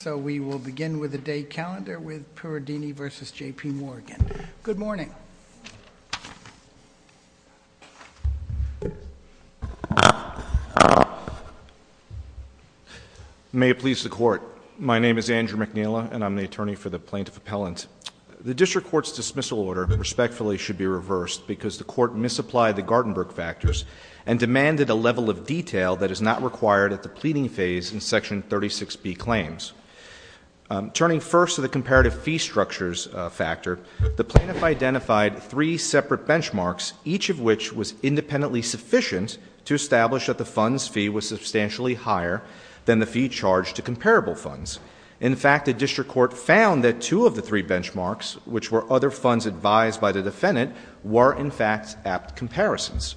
So we will begin with the day calendar with Purundini v. J.P. Morgan. Good morning. May it please the court. My name is Andrew McNeela and I'm the attorney for the plaintiff appellant. The district court's dismissal order respectfully should be reversed because the court misapplied the Gartenberg factors and demanded a level of detail that is not required at the pleading phase in section 36B claims. Turning first to the comparative fee structures factor, the plaintiff identified three separate benchmarks, each of which was independently sufficient to establish that the fund's fee was substantially higher than the fee charged to comparable funds. In fact, the district court found that two of the three benchmarks, which were other funds advised by the defendant, were in fact apt comparisons.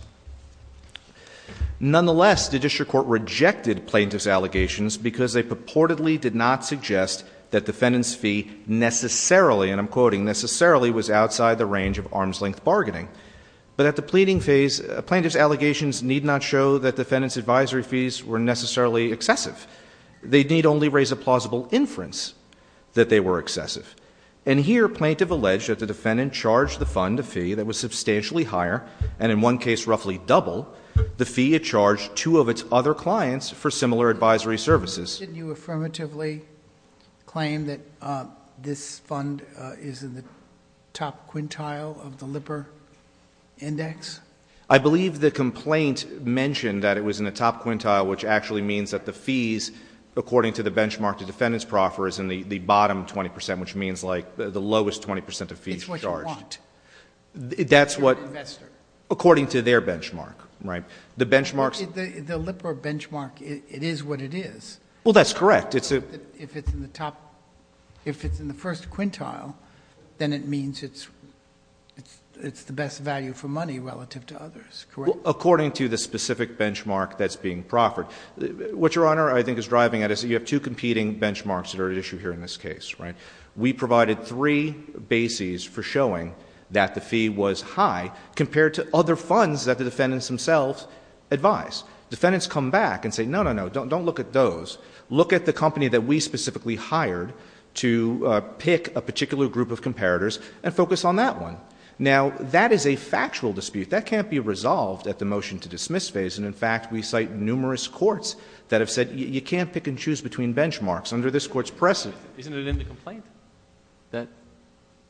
Nonetheless, the district court rejected plaintiff's allegations because they purportedly did not suggest that defendant's fee necessarily, and I'm quoting, necessarily was outside the range of arm's length bargaining. But at the pleading phase, plaintiff's allegations need not show that defendant's advisory fees were necessarily excessive. They need only raise a plausible inference that they were excessive. And here, plaintiff alleged that the defendant charged the fund a fee that was substantially higher, and in one case, roughly double the fee it charged two of its other clients for similar advisory services. Did you affirmatively claim that this fund is in the top quintile of the Lipper Index? I believe the complaint mentioned that it was in the top quintile, which actually means that the fees according to the benchmark the defendant's proffer is in the bottom 20 percent, which means like the lowest 20 percent of fees charged. It's what you want. That's what, according to their benchmark, right? The benchmarks The Lipper benchmark, it is what it is. Well, that's correct. It's a If it's in the top, if it's in the first quintile, then it means it's, it's the best value for money relative to others, correct? According to the specific benchmark that's being proffered. What Your Honor, I think is driving at us, you have two competing benchmarks that are at issue here in this case, right? We provided three bases for showing that the fee was high compared to other funds that the defendants themselves advise. Defendants come back and say, no, no, no, don't look at those. Look at the company that we specifically hired to pick a particular group of comparators and focus on that one. Now that is a factual dispute. That can't be resolved at the motion to dismiss phase. And in fact, we cite numerous courts that have said you can't pick and choose between benchmarks under this court's precedent. Isn't it in the complaint that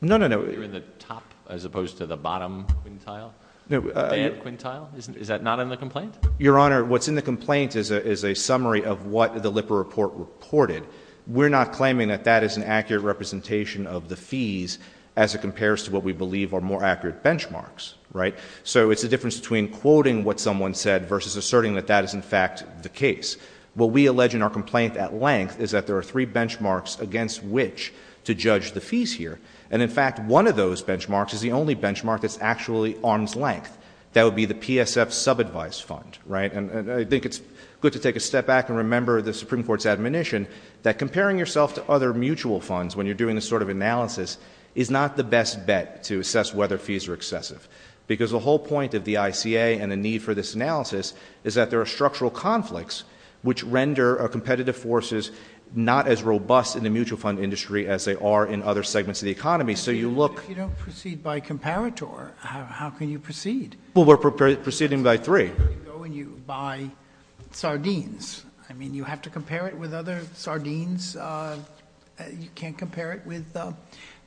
you're in the top as opposed to the bottom quintile? Is that not in the complaint? Your Honor, what's in the complaint is a summary of what the Lipper report reported. We're not claiming that that is an accurate representation of the fees as it compares to what we believe are more accurate benchmarks, right? So it's the difference between quoting what someone said versus asserting that that is in fact the case. What we allege in our complaint at length is that there are three benchmarks against which to judge the fees here. And in fact, one of those benchmarks is the only benchmark that's actually arm's length. That would be the PSF subadvice fund, right? And I think it's good to take a step back and remember the Supreme Court's admonition that comparing yourself to other mutual funds when you're doing this sort of analysis is not the best bet to assess whether fees are excessive. Because the whole point of the ICA and the need for this analysis is that there are structural conflicts which render competitive forces not as robust in the mutual fund industry as they are in other segments of the economy. So you look... But if you don't proceed by comparator, how can you proceed? Well, we're proceeding by three. So you go and you buy sardines. I mean, you have to compare it with other sardines. You can't compare it with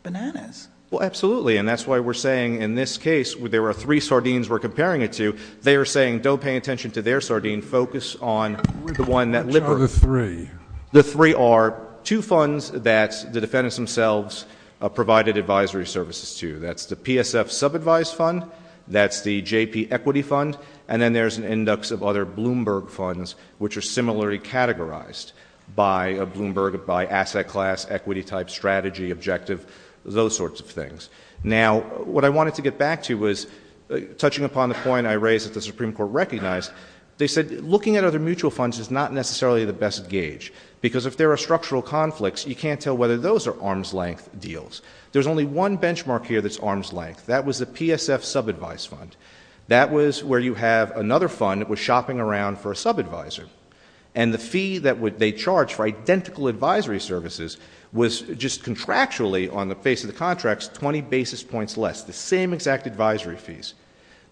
bananas. Well, absolutely. And that's why we're saying in this case, there are three sardines we're comparing it to. They are saying don't pay attention to their sardine. Focus on the one that... Which are the three? The three are two funds that the defendants themselves provided advisory services to. That's the PSF sub-advised fund. That's the JP equity fund. And then there's an index of other Bloomberg funds which are similarly categorized by Bloomberg, by asset class, equity type, strategy, objective, those sorts of things. Now, what I wanted to get back to was, touching upon the point I raised that the Supreme Court recognized, they said looking at other mutual funds is not necessarily the best gauge. Because if there are structural conflicts, you can't tell whether those are arm's length deals. There's only one benchmark here that's arm's length. That was the PSF sub-advised fund. That was where you have another fund that was shopping around for a sub-advisor. And the fee that they charged for identical advisory services was just contractually, on the face of the contracts, 20 basis points less. The same exact advisory fees.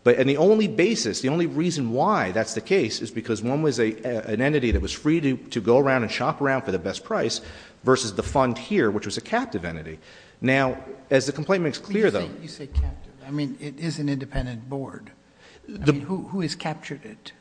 And the only basis, the only reason why that's the case is because one was an entity that was free to go around and shop around for the best price versus the fund here, which was a captive entity. Now, as the complaint makes clear, though... You say captive. I mean, it is an independent board. I mean, who has captured it?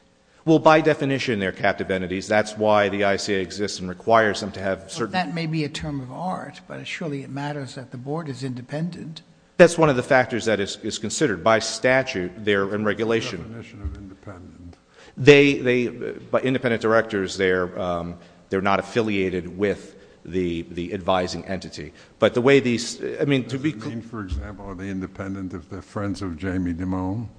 Well, by definition, they're captive entities. That's why the ICA exists and requires them to have certain... That may be a term of art, but surely it matters that the board is independent. That's one of the factors that is considered. By statute, they're in regulation. Definition of independent. Independent directors, they're not affiliated with the advising entity. But the way these... Does it mean, for example, are they independent if they're friends of Jamie Dimone?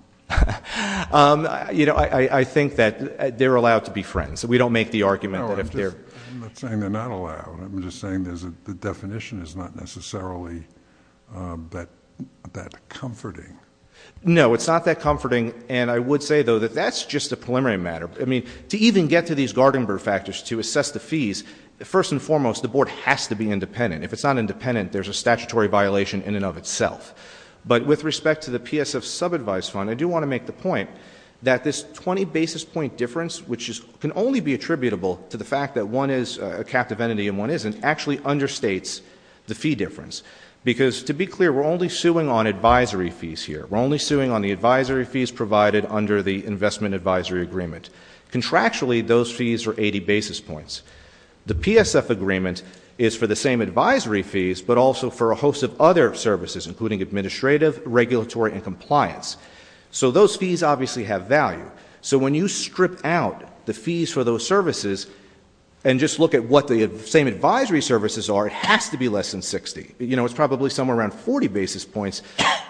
You know, I think that they're allowed to be friends. We don't make the argument that if they're... I'm not saying they're not allowed. I'm just saying the definition is not necessarily that comforting. No, it's not that comforting. And I would say, though, that that's just a preliminary matter. I mean, to even get to these Gartenberg factors to assess the fees, first and foremost, the board has to be independent. If it's not independent, there's a statutory violation in and of itself. But with respect to the PSF sub-advice fund, I do want to make the point that this 20 basis point difference, which can only be attributable to the fact that one is a captive entity and one isn't, actually understates the fee difference. Because, to be clear, we're only suing on advisory fees here. We're only suing on the advisory fees provided under the investment advisory agreement. Contractually, those fees are 80 basis points. The PSF agreement is for the same advisory fees, but also for a host of other services, including administrative, regulatory, and compliance. So those fees obviously have value. So when you strip out the fees for those services and just look at what the same advisory services are, it has to be less than 60. You know, it's probably somewhere around 40 basis points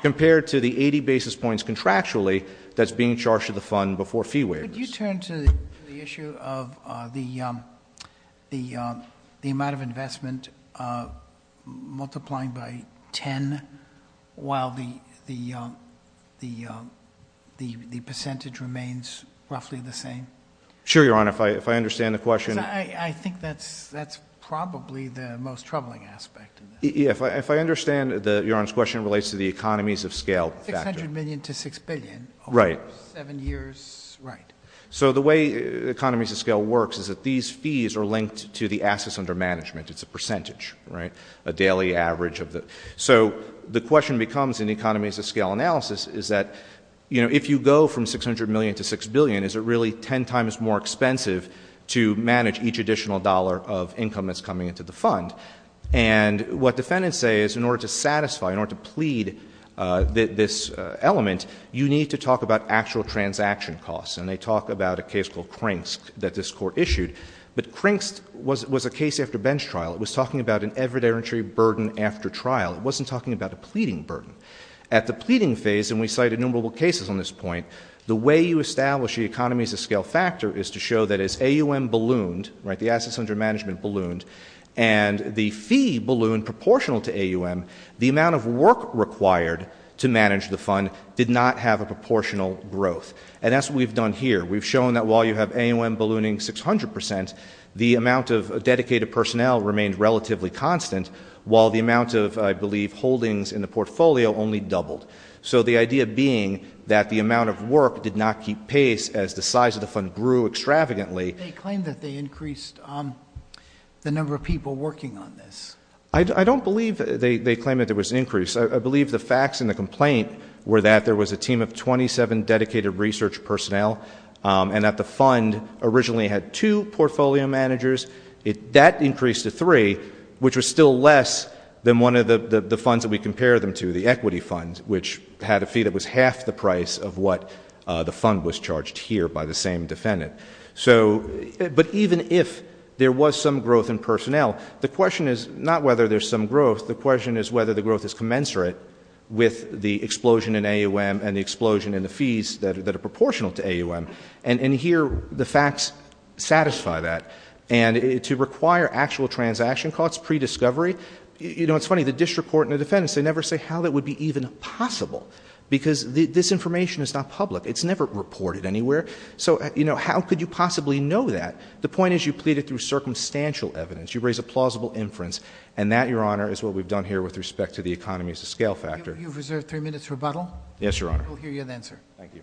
compared to the 80 basis points contractually that's being charged to the fund before fee waives. Could you turn to the issue of the amount of investment multiplying by 10 while the percentage remains roughly the same? Sure, Your Honor. If I understand the question. I think that's probably the most troubling aspect. If I understand Your Honor's question, it relates to the economies of scale factor. 600 million to 6 billion over 7 years. Right. So the way economies of scale works is that these fees are linked to the assets under management. It's a percentage, right? A daily average. So the question becomes in 600 million to 6 billion, is it really 10 times more expensive to manage each additional dollar of income that's coming into the fund? And what defendants say is in order to satisfy, in order to plead this element, you need to talk about actual transaction costs. And they talk about a case called Crink's that this court issued. But Crink's was a case after bench trial. It was talking about an evidentiary burden after trial. It wasn't talking about a pleading burden. At the pleading phase, and we cite innumerable cases on this point, the way you establish the economies of scale factor is to show that as AUM ballooned, right, the assets under management ballooned, and the fee ballooned proportional to AUM, the amount of work required to manage the fund did not have a proportional growth. And that's what we've done here. We've shown that while you have AUM ballooning 600 percent, the amount of dedicated personnel remained relatively constant, while the amount of, I believe, holdings in the portfolio only doubled. So the idea being that the amount of work did not keep pace as the size of the fund grew extravagantly. They claim that they increased the number of people working on this. I don't believe they claim that there was an increase. I believe the facts in the complaint were that there was a team of 27 dedicated research personnel, and that the fund originally had two portfolio managers. That increased to three, which was still less than one of the funds that we compared them to, the equity fund, which had a fee that was half the price of what the fund was charged here by the same defendant. But even if there was some growth in personnel, the question is not whether there's some growth. The question is whether the growth is commensurate with the explosion in AUM and the explosion in the fees that are proportional to AUM. And here, the facts satisfy that. And to require actual transaction costs pre-discovery, you know, it's funny, the district court and the defendants, they never say how that would be even possible, because this information is not public. It's never reported anywhere. So, you know, how could you possibly know that? The point is you pleaded through circumstantial evidence. You raise a plausible inference. And that, Your Honor, is what we've done here with respect to the economy as a scale factor. You've reserved three minutes rebuttal. Yes, Your Honor. Thank you, Your Honor. We'll hear you then, sir. Thank you.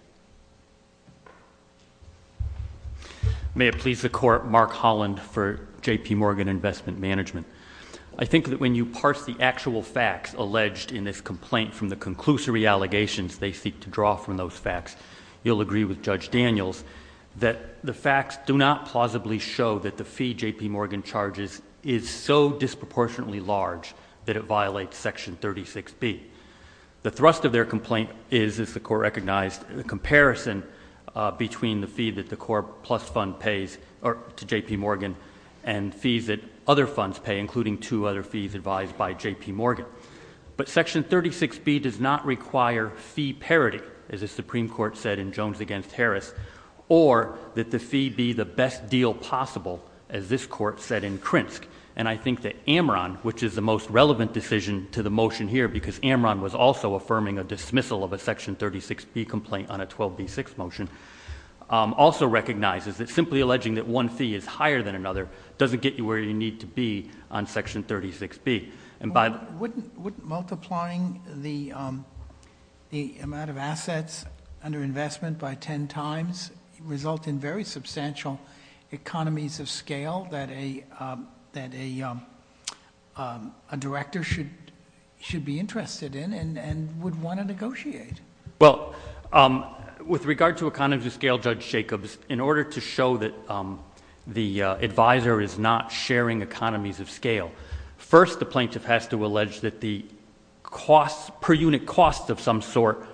May it please the Court, Mark Holland for J.P. Morgan Investment Management. I think that when you parse the actual facts alleged in this complaint from the conclusory allegations they seek to draw from those facts, you'll agree with Judge Daniels that the facts do not plausibly show that the fee J.P. Morgan charges is so disproportionately large that it violates Section 36B. The thrust of their complaint is, as the Court recognized, the comparison between the fee that the Corp Plus Fund pays to J.P. Morgan and fees that other funds pay, including two other fees advised by J.P. Morgan. But Section 36B does not require fee parity, as the Supreme Court said in Jones v. Harris, or that the fee be the best deal possible, as this Court said in Krinsk. And I think that Amron, which is the most relevant decision to the motion here, because Amron was also affirming a dismissal of a Section 36B complaint on a 12b6 motion, also recognizes that simply alleging that one fee is higher than another doesn't get you where you need to be on Section 36B. Wouldn't multiplying the amount of assets under investment by ten times result in very low economies of scale that a director should be interested in and would want to negotiate? Well, with regard to economies of scale, Judge Jacobs, in order to show that the advisor is not sharing economies of scale, first the plaintiff has to allege that the costs, per unit costs of some sort,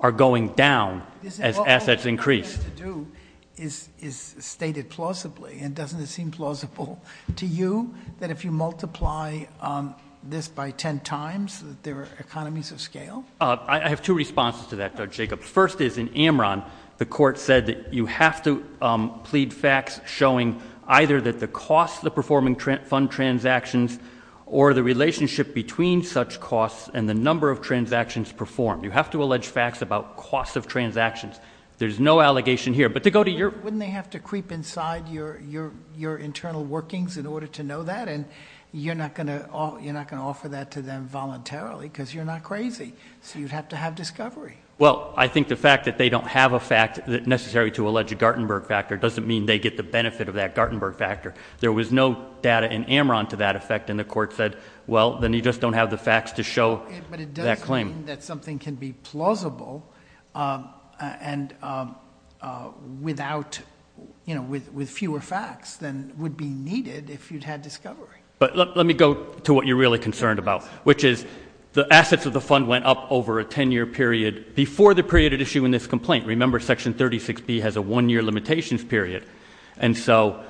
are going down as assets increase. What you're trying to do is state it plausibly, and doesn't it seem plausible to you that if you multiply this by ten times that there are economies of scale? I have two responses to that, Judge Jacobs. First is, in Amron, the Court said that you have to plead facts showing either that the costs of the performing fund transactions or the relationship between such costs and the number of transactions performed. You know, there's no allegation here, but to go to your... Wouldn't they have to creep inside your internal workings in order to know that? And you're not going to offer that to them voluntarily because you're not crazy, so you'd have to have discovery. Well, I think the fact that they don't have a fact necessary to allege a Gartenberg factor doesn't mean they get the benefit of that Gartenberg factor. There was no data in Amron to that effect, and the Court said, well, then you just don't have the facts to show that claim. But it does mean that something can be plausible and without, you know, with fewer facts than would be needed if you'd had discovery. But let me go to what you're really concerned about, which is the assets of the fund went up over a ten-year period before the period at issue in this complaint. Remember, Section 36B has a one-year limitations period, and so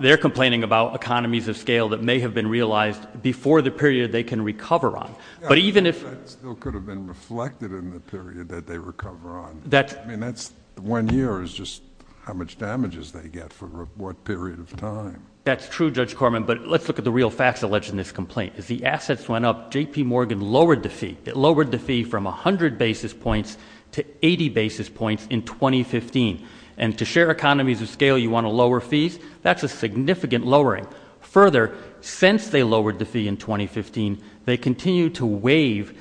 they're complaining about economies of scale. That still could have been reflected in the period that they recover on. I mean, one year is just how much damages they get for what period of time. That's true, Judge Corman, but let's look at the real facts alleged in this complaint. As the assets went up, J.P. Morgan lowered the fee. It lowered the fee from 100 basis points to 80 basis points in 2015. And to share economies of scale, you want to lower fees? That's a significant lowering. Further, since they lowered the fee in 2015, they continue to waive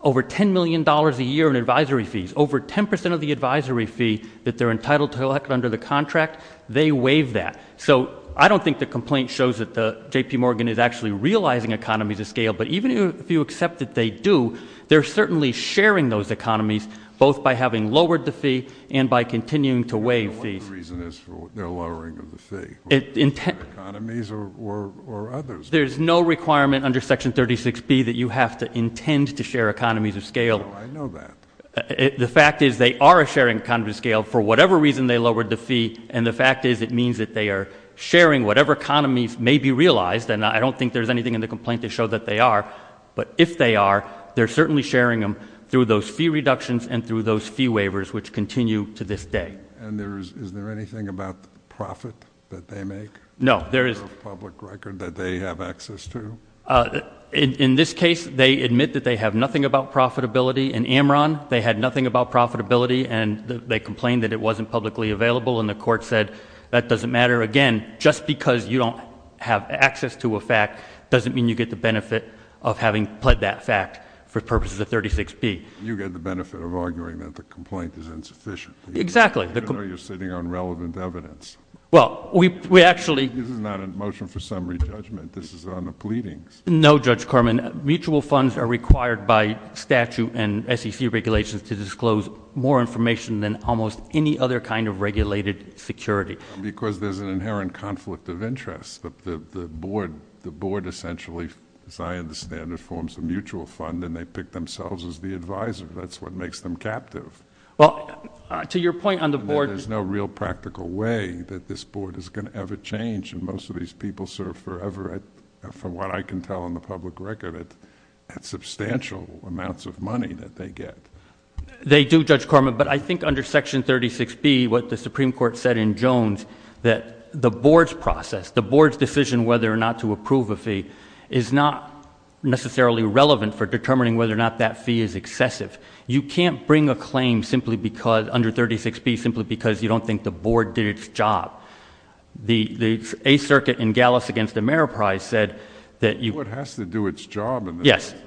over $10 million a year in advisory fees. Over 10 percent of the advisory fee that they're entitled to collect under the contract, they waive that. So I don't think the complaint shows that J.P. Morgan is actually realizing economies of scale, but even if you accept that they do, they're certainly sharing those economies both by having lowered the fee and by continuing to waive fees. The only reason is for their lowering of the fee, economies or others. There's no requirement under Section 36B that you have to intend to share economies of scale. No, I know that. The fact is they are sharing economies of scale for whatever reason they lowered the fee, and the fact is it means that they are sharing whatever economies may be realized, and I don't think there's anything in the complaint to show that they are. But if they are, they're certainly sharing them through those fee reductions and through those fee waivers which continue to this day. And is there anything about the profit that they make for a public record that they have access to? In this case, they admit that they have nothing about profitability. In Amron, they had nothing about profitability, and they complained that it wasn't publicly available, and the Court said that doesn't matter. Again, just because you don't have access to a fact doesn't mean you get the benefit of having pled that fact for purposes of 36B. You get the benefit of arguing that the complaint is insufficient. Exactly. Even though you're sitting on relevant evidence. Well, we actually This is not a motion for summary judgment. This is on the pleadings. No, Judge Kerman. Mutual funds are required by statute and SEC regulations to disclose more information than almost any other kind of regulated security. Because there's an inherent conflict of interest. The Board essentially, as I understand it, forms a mutual fund, and they pick themselves as the advisor. That's what makes them captive. Well, to your point on the Board There's no real practical way that this Board is going to ever change, and most of these people serve forever, from what I can tell on the public record, at substantial amounts of money that they get. They do, Judge Kerman, but I think under Section 36B, what the Supreme Court said in Jones, that the Board's process, the Board's decision whether or not to approve a fee, is not necessarily relevant for determining whether or not that fee is excessive. You can't bring a claim simply because, under 36B, simply because you don't think the Board did its job. The Eighth Circuit in Gallus against Ameriprise said that The Board has to do its job in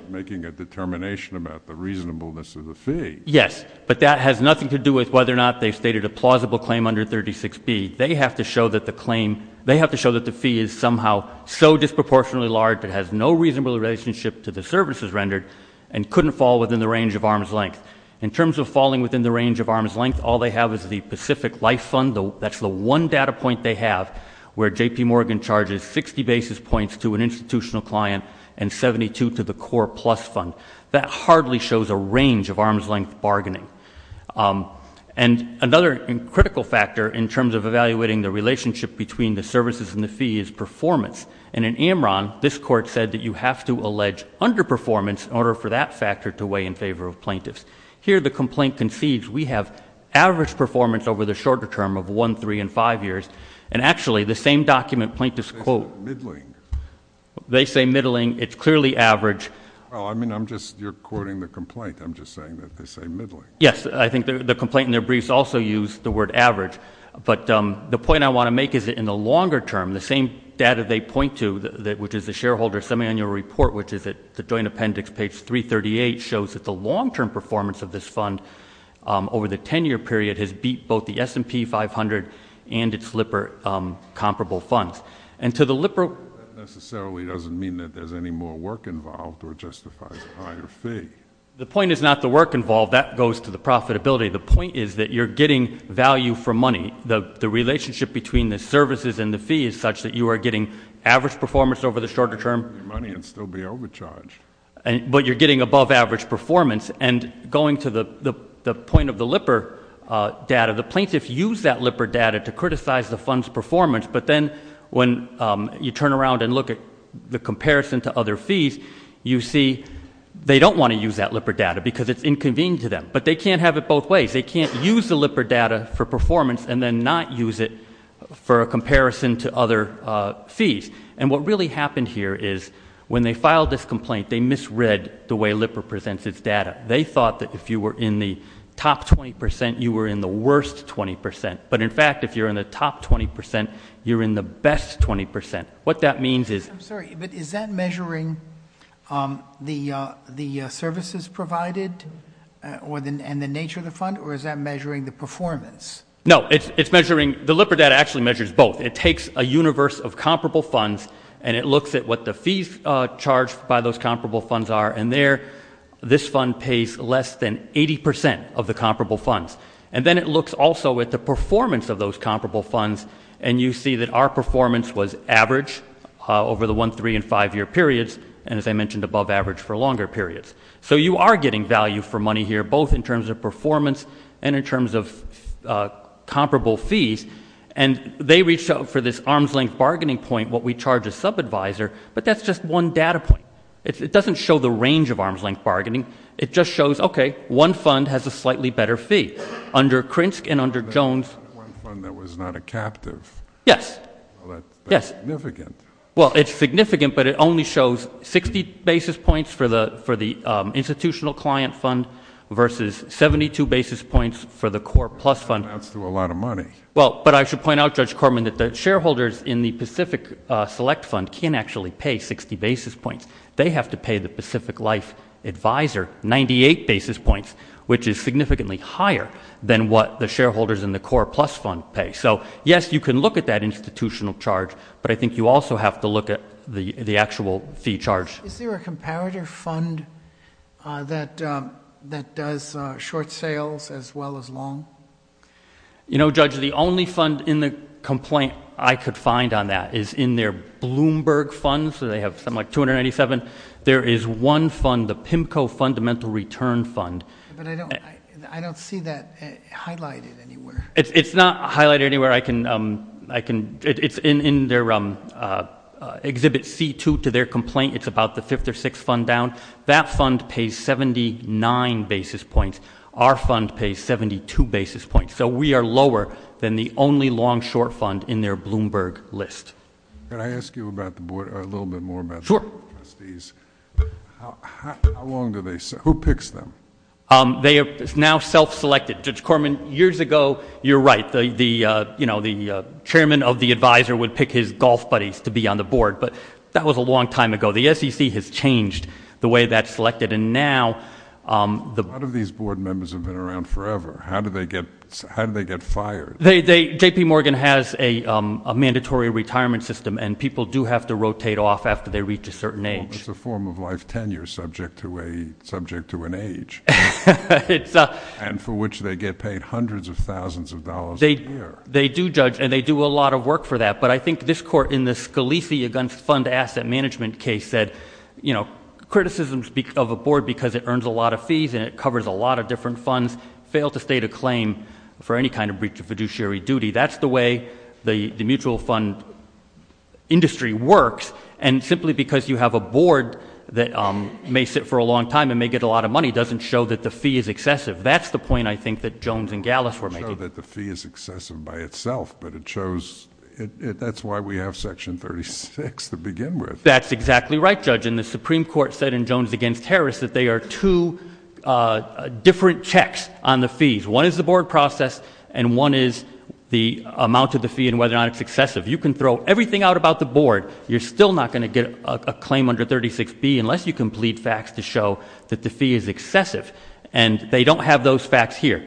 making a determination about the reasonableness of the fee. Yes, but that has nothing to do with whether or not they've stated a plausible claim under 36B. They have to show that the claim, they have to show that the fee is somehow so disproportionately large that it has no reasonable relationship to the services rendered and couldn't fall within the range of arm's length. In terms of falling within the range of arm's length, all they have is the Pacific Life Fund. That's the one data point they have where J.P. Morgan charges 60 basis points to an institutional client and 72 to the Core Plus Fund. That hardly shows a range of arm's length bargaining. And another critical factor in terms of evaluating the relationship between the services and the fee is performance. And in Amron, this Court said that you have to allege underperformance in order for that factor to weigh in favor of plaintiffs. Here, the complaint concedes we have average performance over the shorter term of one, three, and five years. And actually, the same document, plaintiffs quote They say middling. They say middling. It's clearly average. Well, I mean, I'm just, you're quoting the complaint. I'm just saying that they say middling. Yes, I think the complaint in their briefs also used the word average. But the point I want to make is that in the longer term, the same data they point to, which is the shareholder semiannual report, which is at the Joint Appendix, page 338, shows that the long-term performance of this fund over the 10-year period has beat both the S&P 500 and its LIPR comparable funds. And to the LIPR That necessarily doesn't mean that there's any more work involved or justifies a higher fee. The point is not the work involved. That goes to the profitability. The point is that you're getting value for money. The relationship between the services and the fee is such that you are getting average performance over the shorter term You're getting money and still be overcharged. But you're getting above-average performance. And going to the point of the LIPR data, the plaintiffs use that LIPR data to criticize the fund's performance. But then when you turn around and look at the comparison to other fees, you see they don't want to use that LIPR data because it's inconvenient to them. But they can't have it both ways. They can't use the LIPR data for performance and then not use it for a comparison to other fees. And what really happened here is when they filed this complaint, they misread the way LIPR presents its data. They thought that if you were in the top 20 percent, you were in the worst 20 percent. But in fact, if you're in the top 20 percent, you're in the best 20 percent. What that means is I'm sorry, but is that measuring the services provided and the nature of the fund? Or is that measuring the performance? No. It's measuring the LIPR data actually measures both. It takes a universe of comparable funds and it looks at what the fees charged by those comparable funds are. And there, this fund pays less than 80 percent of the comparable funds. And then it looks also at the performance of those comparable funds. And you see that our performance was average over the one, three and five-year periods. And as I mentioned, above average for longer periods. So you are getting value for money here, both in terms of performance and in terms of comparable fees. And they reached out for this arm's length bargaining point, what we charge a sub-advisor, but that's just one data point. It doesn't show the range of arm's length bargaining. It just shows, okay, one fund has a slightly better fee. Under Krinsk and under Jones One fund that was not a captive. Yes. Well, that's significant. Well, it's significant, but it only shows 60 basis points for the institutional client fund versus 72 basis points for the core plus fund. That's a lot of money. Well, but I should point out, Judge Corman, that the shareholders in the Pacific Select Fund can't actually pay 60 basis points. They have to pay the Pacific Life Advisor 98 basis points, which is significantly higher than what the shareholders in the core plus fund pay. So, yes, you can look at that institutional charge, but I think you also have to look at the actual fee charge. Is there a comparator fund that does short sales as well as long? You know, Judge, the only fund in the complaint I could find on that is in their Bloomberg fund, so they have something like 297. There is one fund, the PIMCO Fundamental Return Fund. But I don't see that highlighted anywhere. It's not highlighted anywhere. It's in their Exhibit C2 to their complaint. It's about the fifth or sixth fund down. That fund pays 79 basis points. Our fund pays 72 basis points, so we are lower than the only long short fund in their Bloomberg list. Can I ask you a little bit more about the board of trustees? Sure. How long do they serve? Who picks them? They are now self-selected. Judge Corman, years ago, you're right, the chairman of the advisor would pick his golf buddies to be on the board, but that was a long time ago. The SEC has changed the way that's selected, and now the A lot of these board members have been around forever. How do they get fired? J.P. Morgan has a mandatory retirement system, and people do have to rotate off after they reach a certain age. It's a form of life tenure subject to an age, and for which they get paid hundreds of thousands of dollars a year. They do judge, and they do a lot of work for that, but I think this court in the Scalise Against Fund Asset Management case said, you know, criticisms of a board because it earns a lot of fees and it covers a lot of different funds fail to state a claim for any kind of breach of fiduciary duty. That's the way the mutual fund industry works, and simply because you have a board that may sit for a long time and may get a lot of money doesn't show that the fee is excessive. That's the point, I think, that Jones and Gallis were making. It doesn't show that the fee is excessive by itself, but it shows, that's why we have section 36 to begin with. That's exactly right, Judge, and the Supreme Court said in Jones Against Harris that they are two different checks on the fees. One is the board process, and one is the amount of the fee and whether or not it's excessive. You can throw everything out about the board, you're still not going to get a claim under 36B unless you complete facts to show that the fee is excessive, and they don't have those facts here.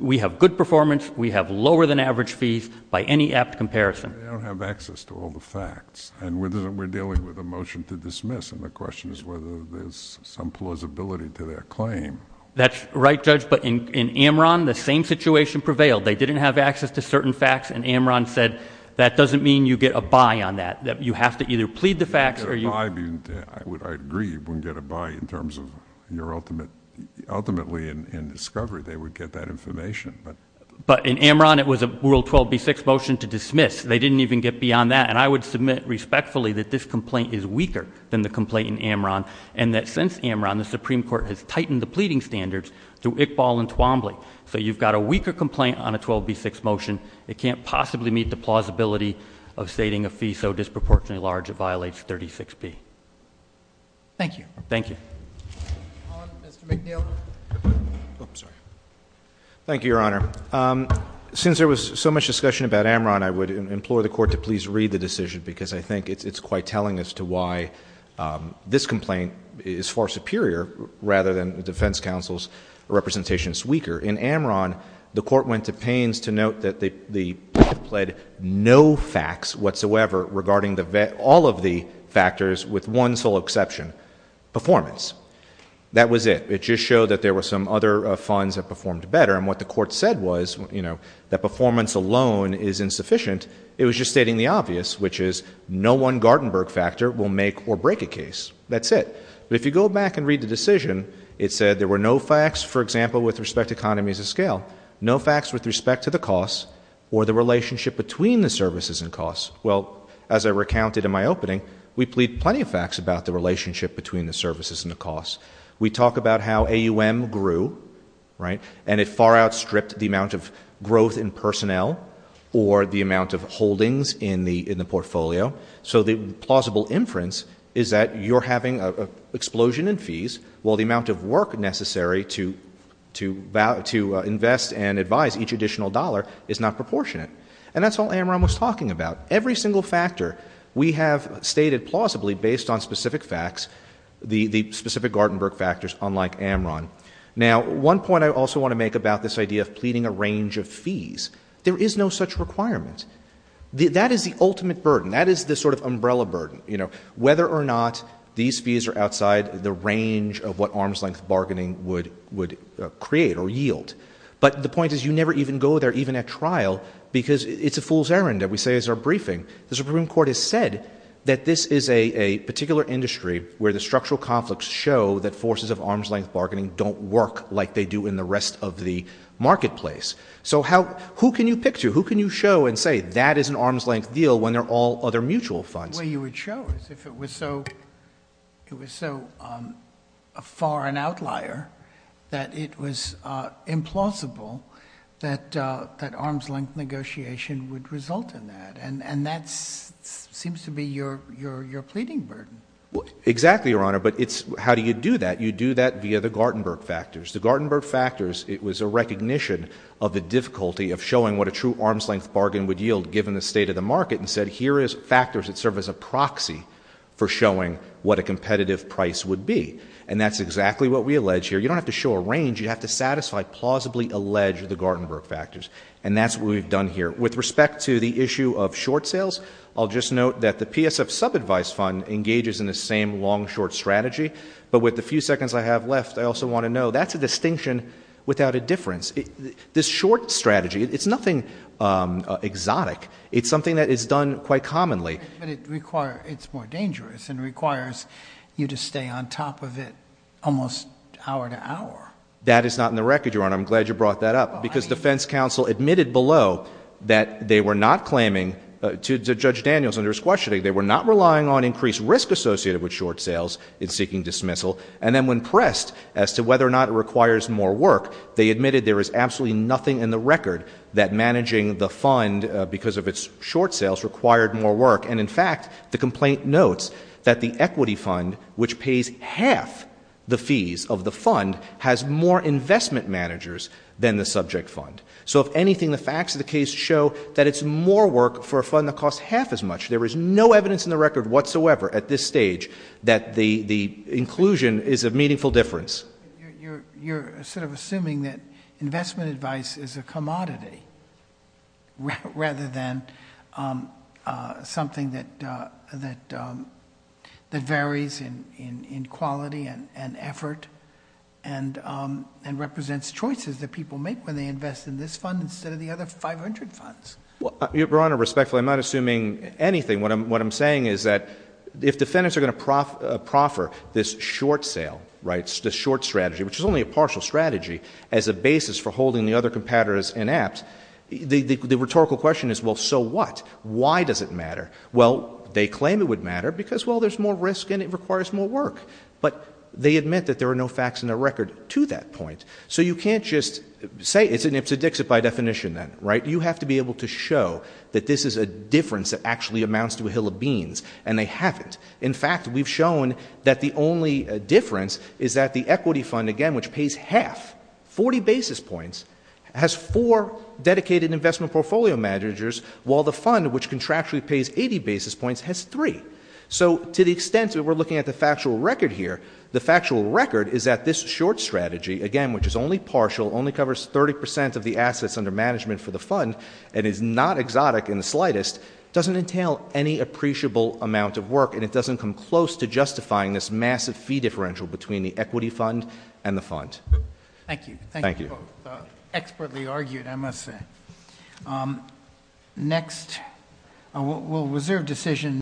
We have good performance, we have lower than average fees by any apt comparison. They don't have access to all the facts, and we're dealing with a motion to dismiss, and the question is whether there's some plausibility to their claim. That's right, Judge, but in Amron, the same situation prevailed. They didn't have access to certain facts, and Amron said, that doesn't mean you get a buy on that. You have to either plead the facts, or you... You wouldn't get a buy, I agree, you wouldn't get a buy in terms of your ultimate... ultimately in discovery, they would get that information. But in Amron, it was a rule 12B6 motion to dismiss. They didn't even get beyond that, and I would submit respectfully that this complaint is weaker than the complaint in Amron, and that since Amron, the Supreme Court has tightened the pleading standards to Iqbal and Twombly, so you've got a weaker complaint on a 12B6 motion. It can't possibly meet the plausibility of stating a fee so disproportionately large it violates 36B. Thank you. Thank you. Mr. McNeil. Thank you, Your Honor. Since there was so much discussion about Amron, I would implore the Court to please read the decision, because I think it's quite telling as to why this motion is weaker. In Amron, the Court went to Paines to note that the plaintiff pled no facts whatsoever regarding all of the factors with one sole exception, performance. That was it. It just showed that there were some other funds that performed better, and what the Court said was, you know, that performance alone is insufficient. It was just stating the obvious, which is no one Gartenberg factor will make or break a case. That's it. But if you go back and read the decision, it said there were no facts, for example, with respect to economies of scale, no facts with respect to the costs or the relationship between the services and costs. Well, as I recounted in my opening, we plead plenty of facts about the relationship between the services and the costs. We talk about how AUM grew, right, and it far outstripped the amount of growth in personnel or the amount of holdings in the portfolio. So the plausible inference is that you're having an explosion in fees while the amount of work necessary to invest and advise each additional dollar is not proportionate. And that's all Amron was talking about. Every single factor we have stated plausibly based on specific facts, the specific Gartenberg factors, unlike Amron. Now, one point I also want to make about this idea of pleading a range of fees. There is no such requirement. That is the ultimate burden. That is the sort of umbrella burden, you know, whether or not these fees are outside the range of what arm's-length bargaining would create or yield. But the point is you never even go there, even at trial, because it's a fool's errand that we say as our briefing. The Supreme Court has said that this is a particular industry where the structural conflicts show that forces of arm's-length bargaining don't work like they do in the rest of the marketplace. So who can you pick to? Who can you show and say that is an arm's-length deal when they're all other mutual funds? The way you would show is if it was so far an outlier that it was implausible that arm's-length negotiation would result in that. And that seems to be your pleading burden. Exactly, Your Honor. But it's how do you do that? You do that via the Gartenberg factors. The Gartenberg factors, it was a recognition of the difficulty of showing what a true arm's-length bargain would yield given the state of the market and said here is factors that serve as a proxy for showing what a competitive price would be. And that's exactly what we allege here. You don't have to show a range. You have to satisfy, plausibly allege the Gartenberg factors. And that's what we've done here. With respect to the issue of short sales, I'll just note that the PSF subadvice fund engages in the same long-short strategy. But with the few seconds I have left, I also want to note that's a distinction without a difference. This short strategy, it's nothing exotic. It's something that is done quite commonly. But it's more dangerous and requires you to stay on top of it almost hour to hour. That is not in the record, Your Honor. I'm glad you brought that up because defense counsel admitted below that they were not claiming to Judge Daniels under his questioning, they were not relying on increased risk associated with short sales in seeking dismissal. And then when pressed as to whether or not it requires more work, they admitted there was absolutely nothing in the record that managing the fund because of its short sales required more work. And in fact, the complaint notes that the equity fund, which pays half the fees of the fund, has more investment managers than the subject fund. So if anything, the facts of the case show that it's more work for a fund that costs half as much. There is no evidence in the record whatsoever at this stage that the inclusion is of meaningful difference. You're sort of assuming that investment advice is a commodity rather than something that varies in quality and effort and represents choices that people make when they invest in this fund instead of the other five hundred funds. Your Honor, respectfully, I'm not assuming anything. What I'm saying is that if defendants are going to proffer this short sale, right, this short strategy, which is only a partial strategy as a basis for holding the other competitors inept, the rhetorical question is, well, so what? Why does it matter? Well, they claim it would matter because, well, there's more risk and it requires more work. But they admit that there are no facts in the record to that point. So you can't just say it's an ipsedixit by definition then, right? You have to be able to show that this is a difference that actually amounts to a hill of beans, and they haven't. In fact, we've shown that the only difference is that the equity fund, again, which pays half, 40 basis points, has four dedicated investment portfolio managers, while the fund which contractually pays 80 basis points has three. So to the extent that we're looking at the factual record here, the factual record is that this short strategy, again, which is only partial, only covers 30 percent of the assets under management for the fund and is not exotic in the slightest, doesn't entail any appreciable amount of work, and it doesn't come close to justifying this massive fee differential between the equity fund and the fund. Thank you. Thank you. Expertly argued, I must say. Next, we'll reserve decision.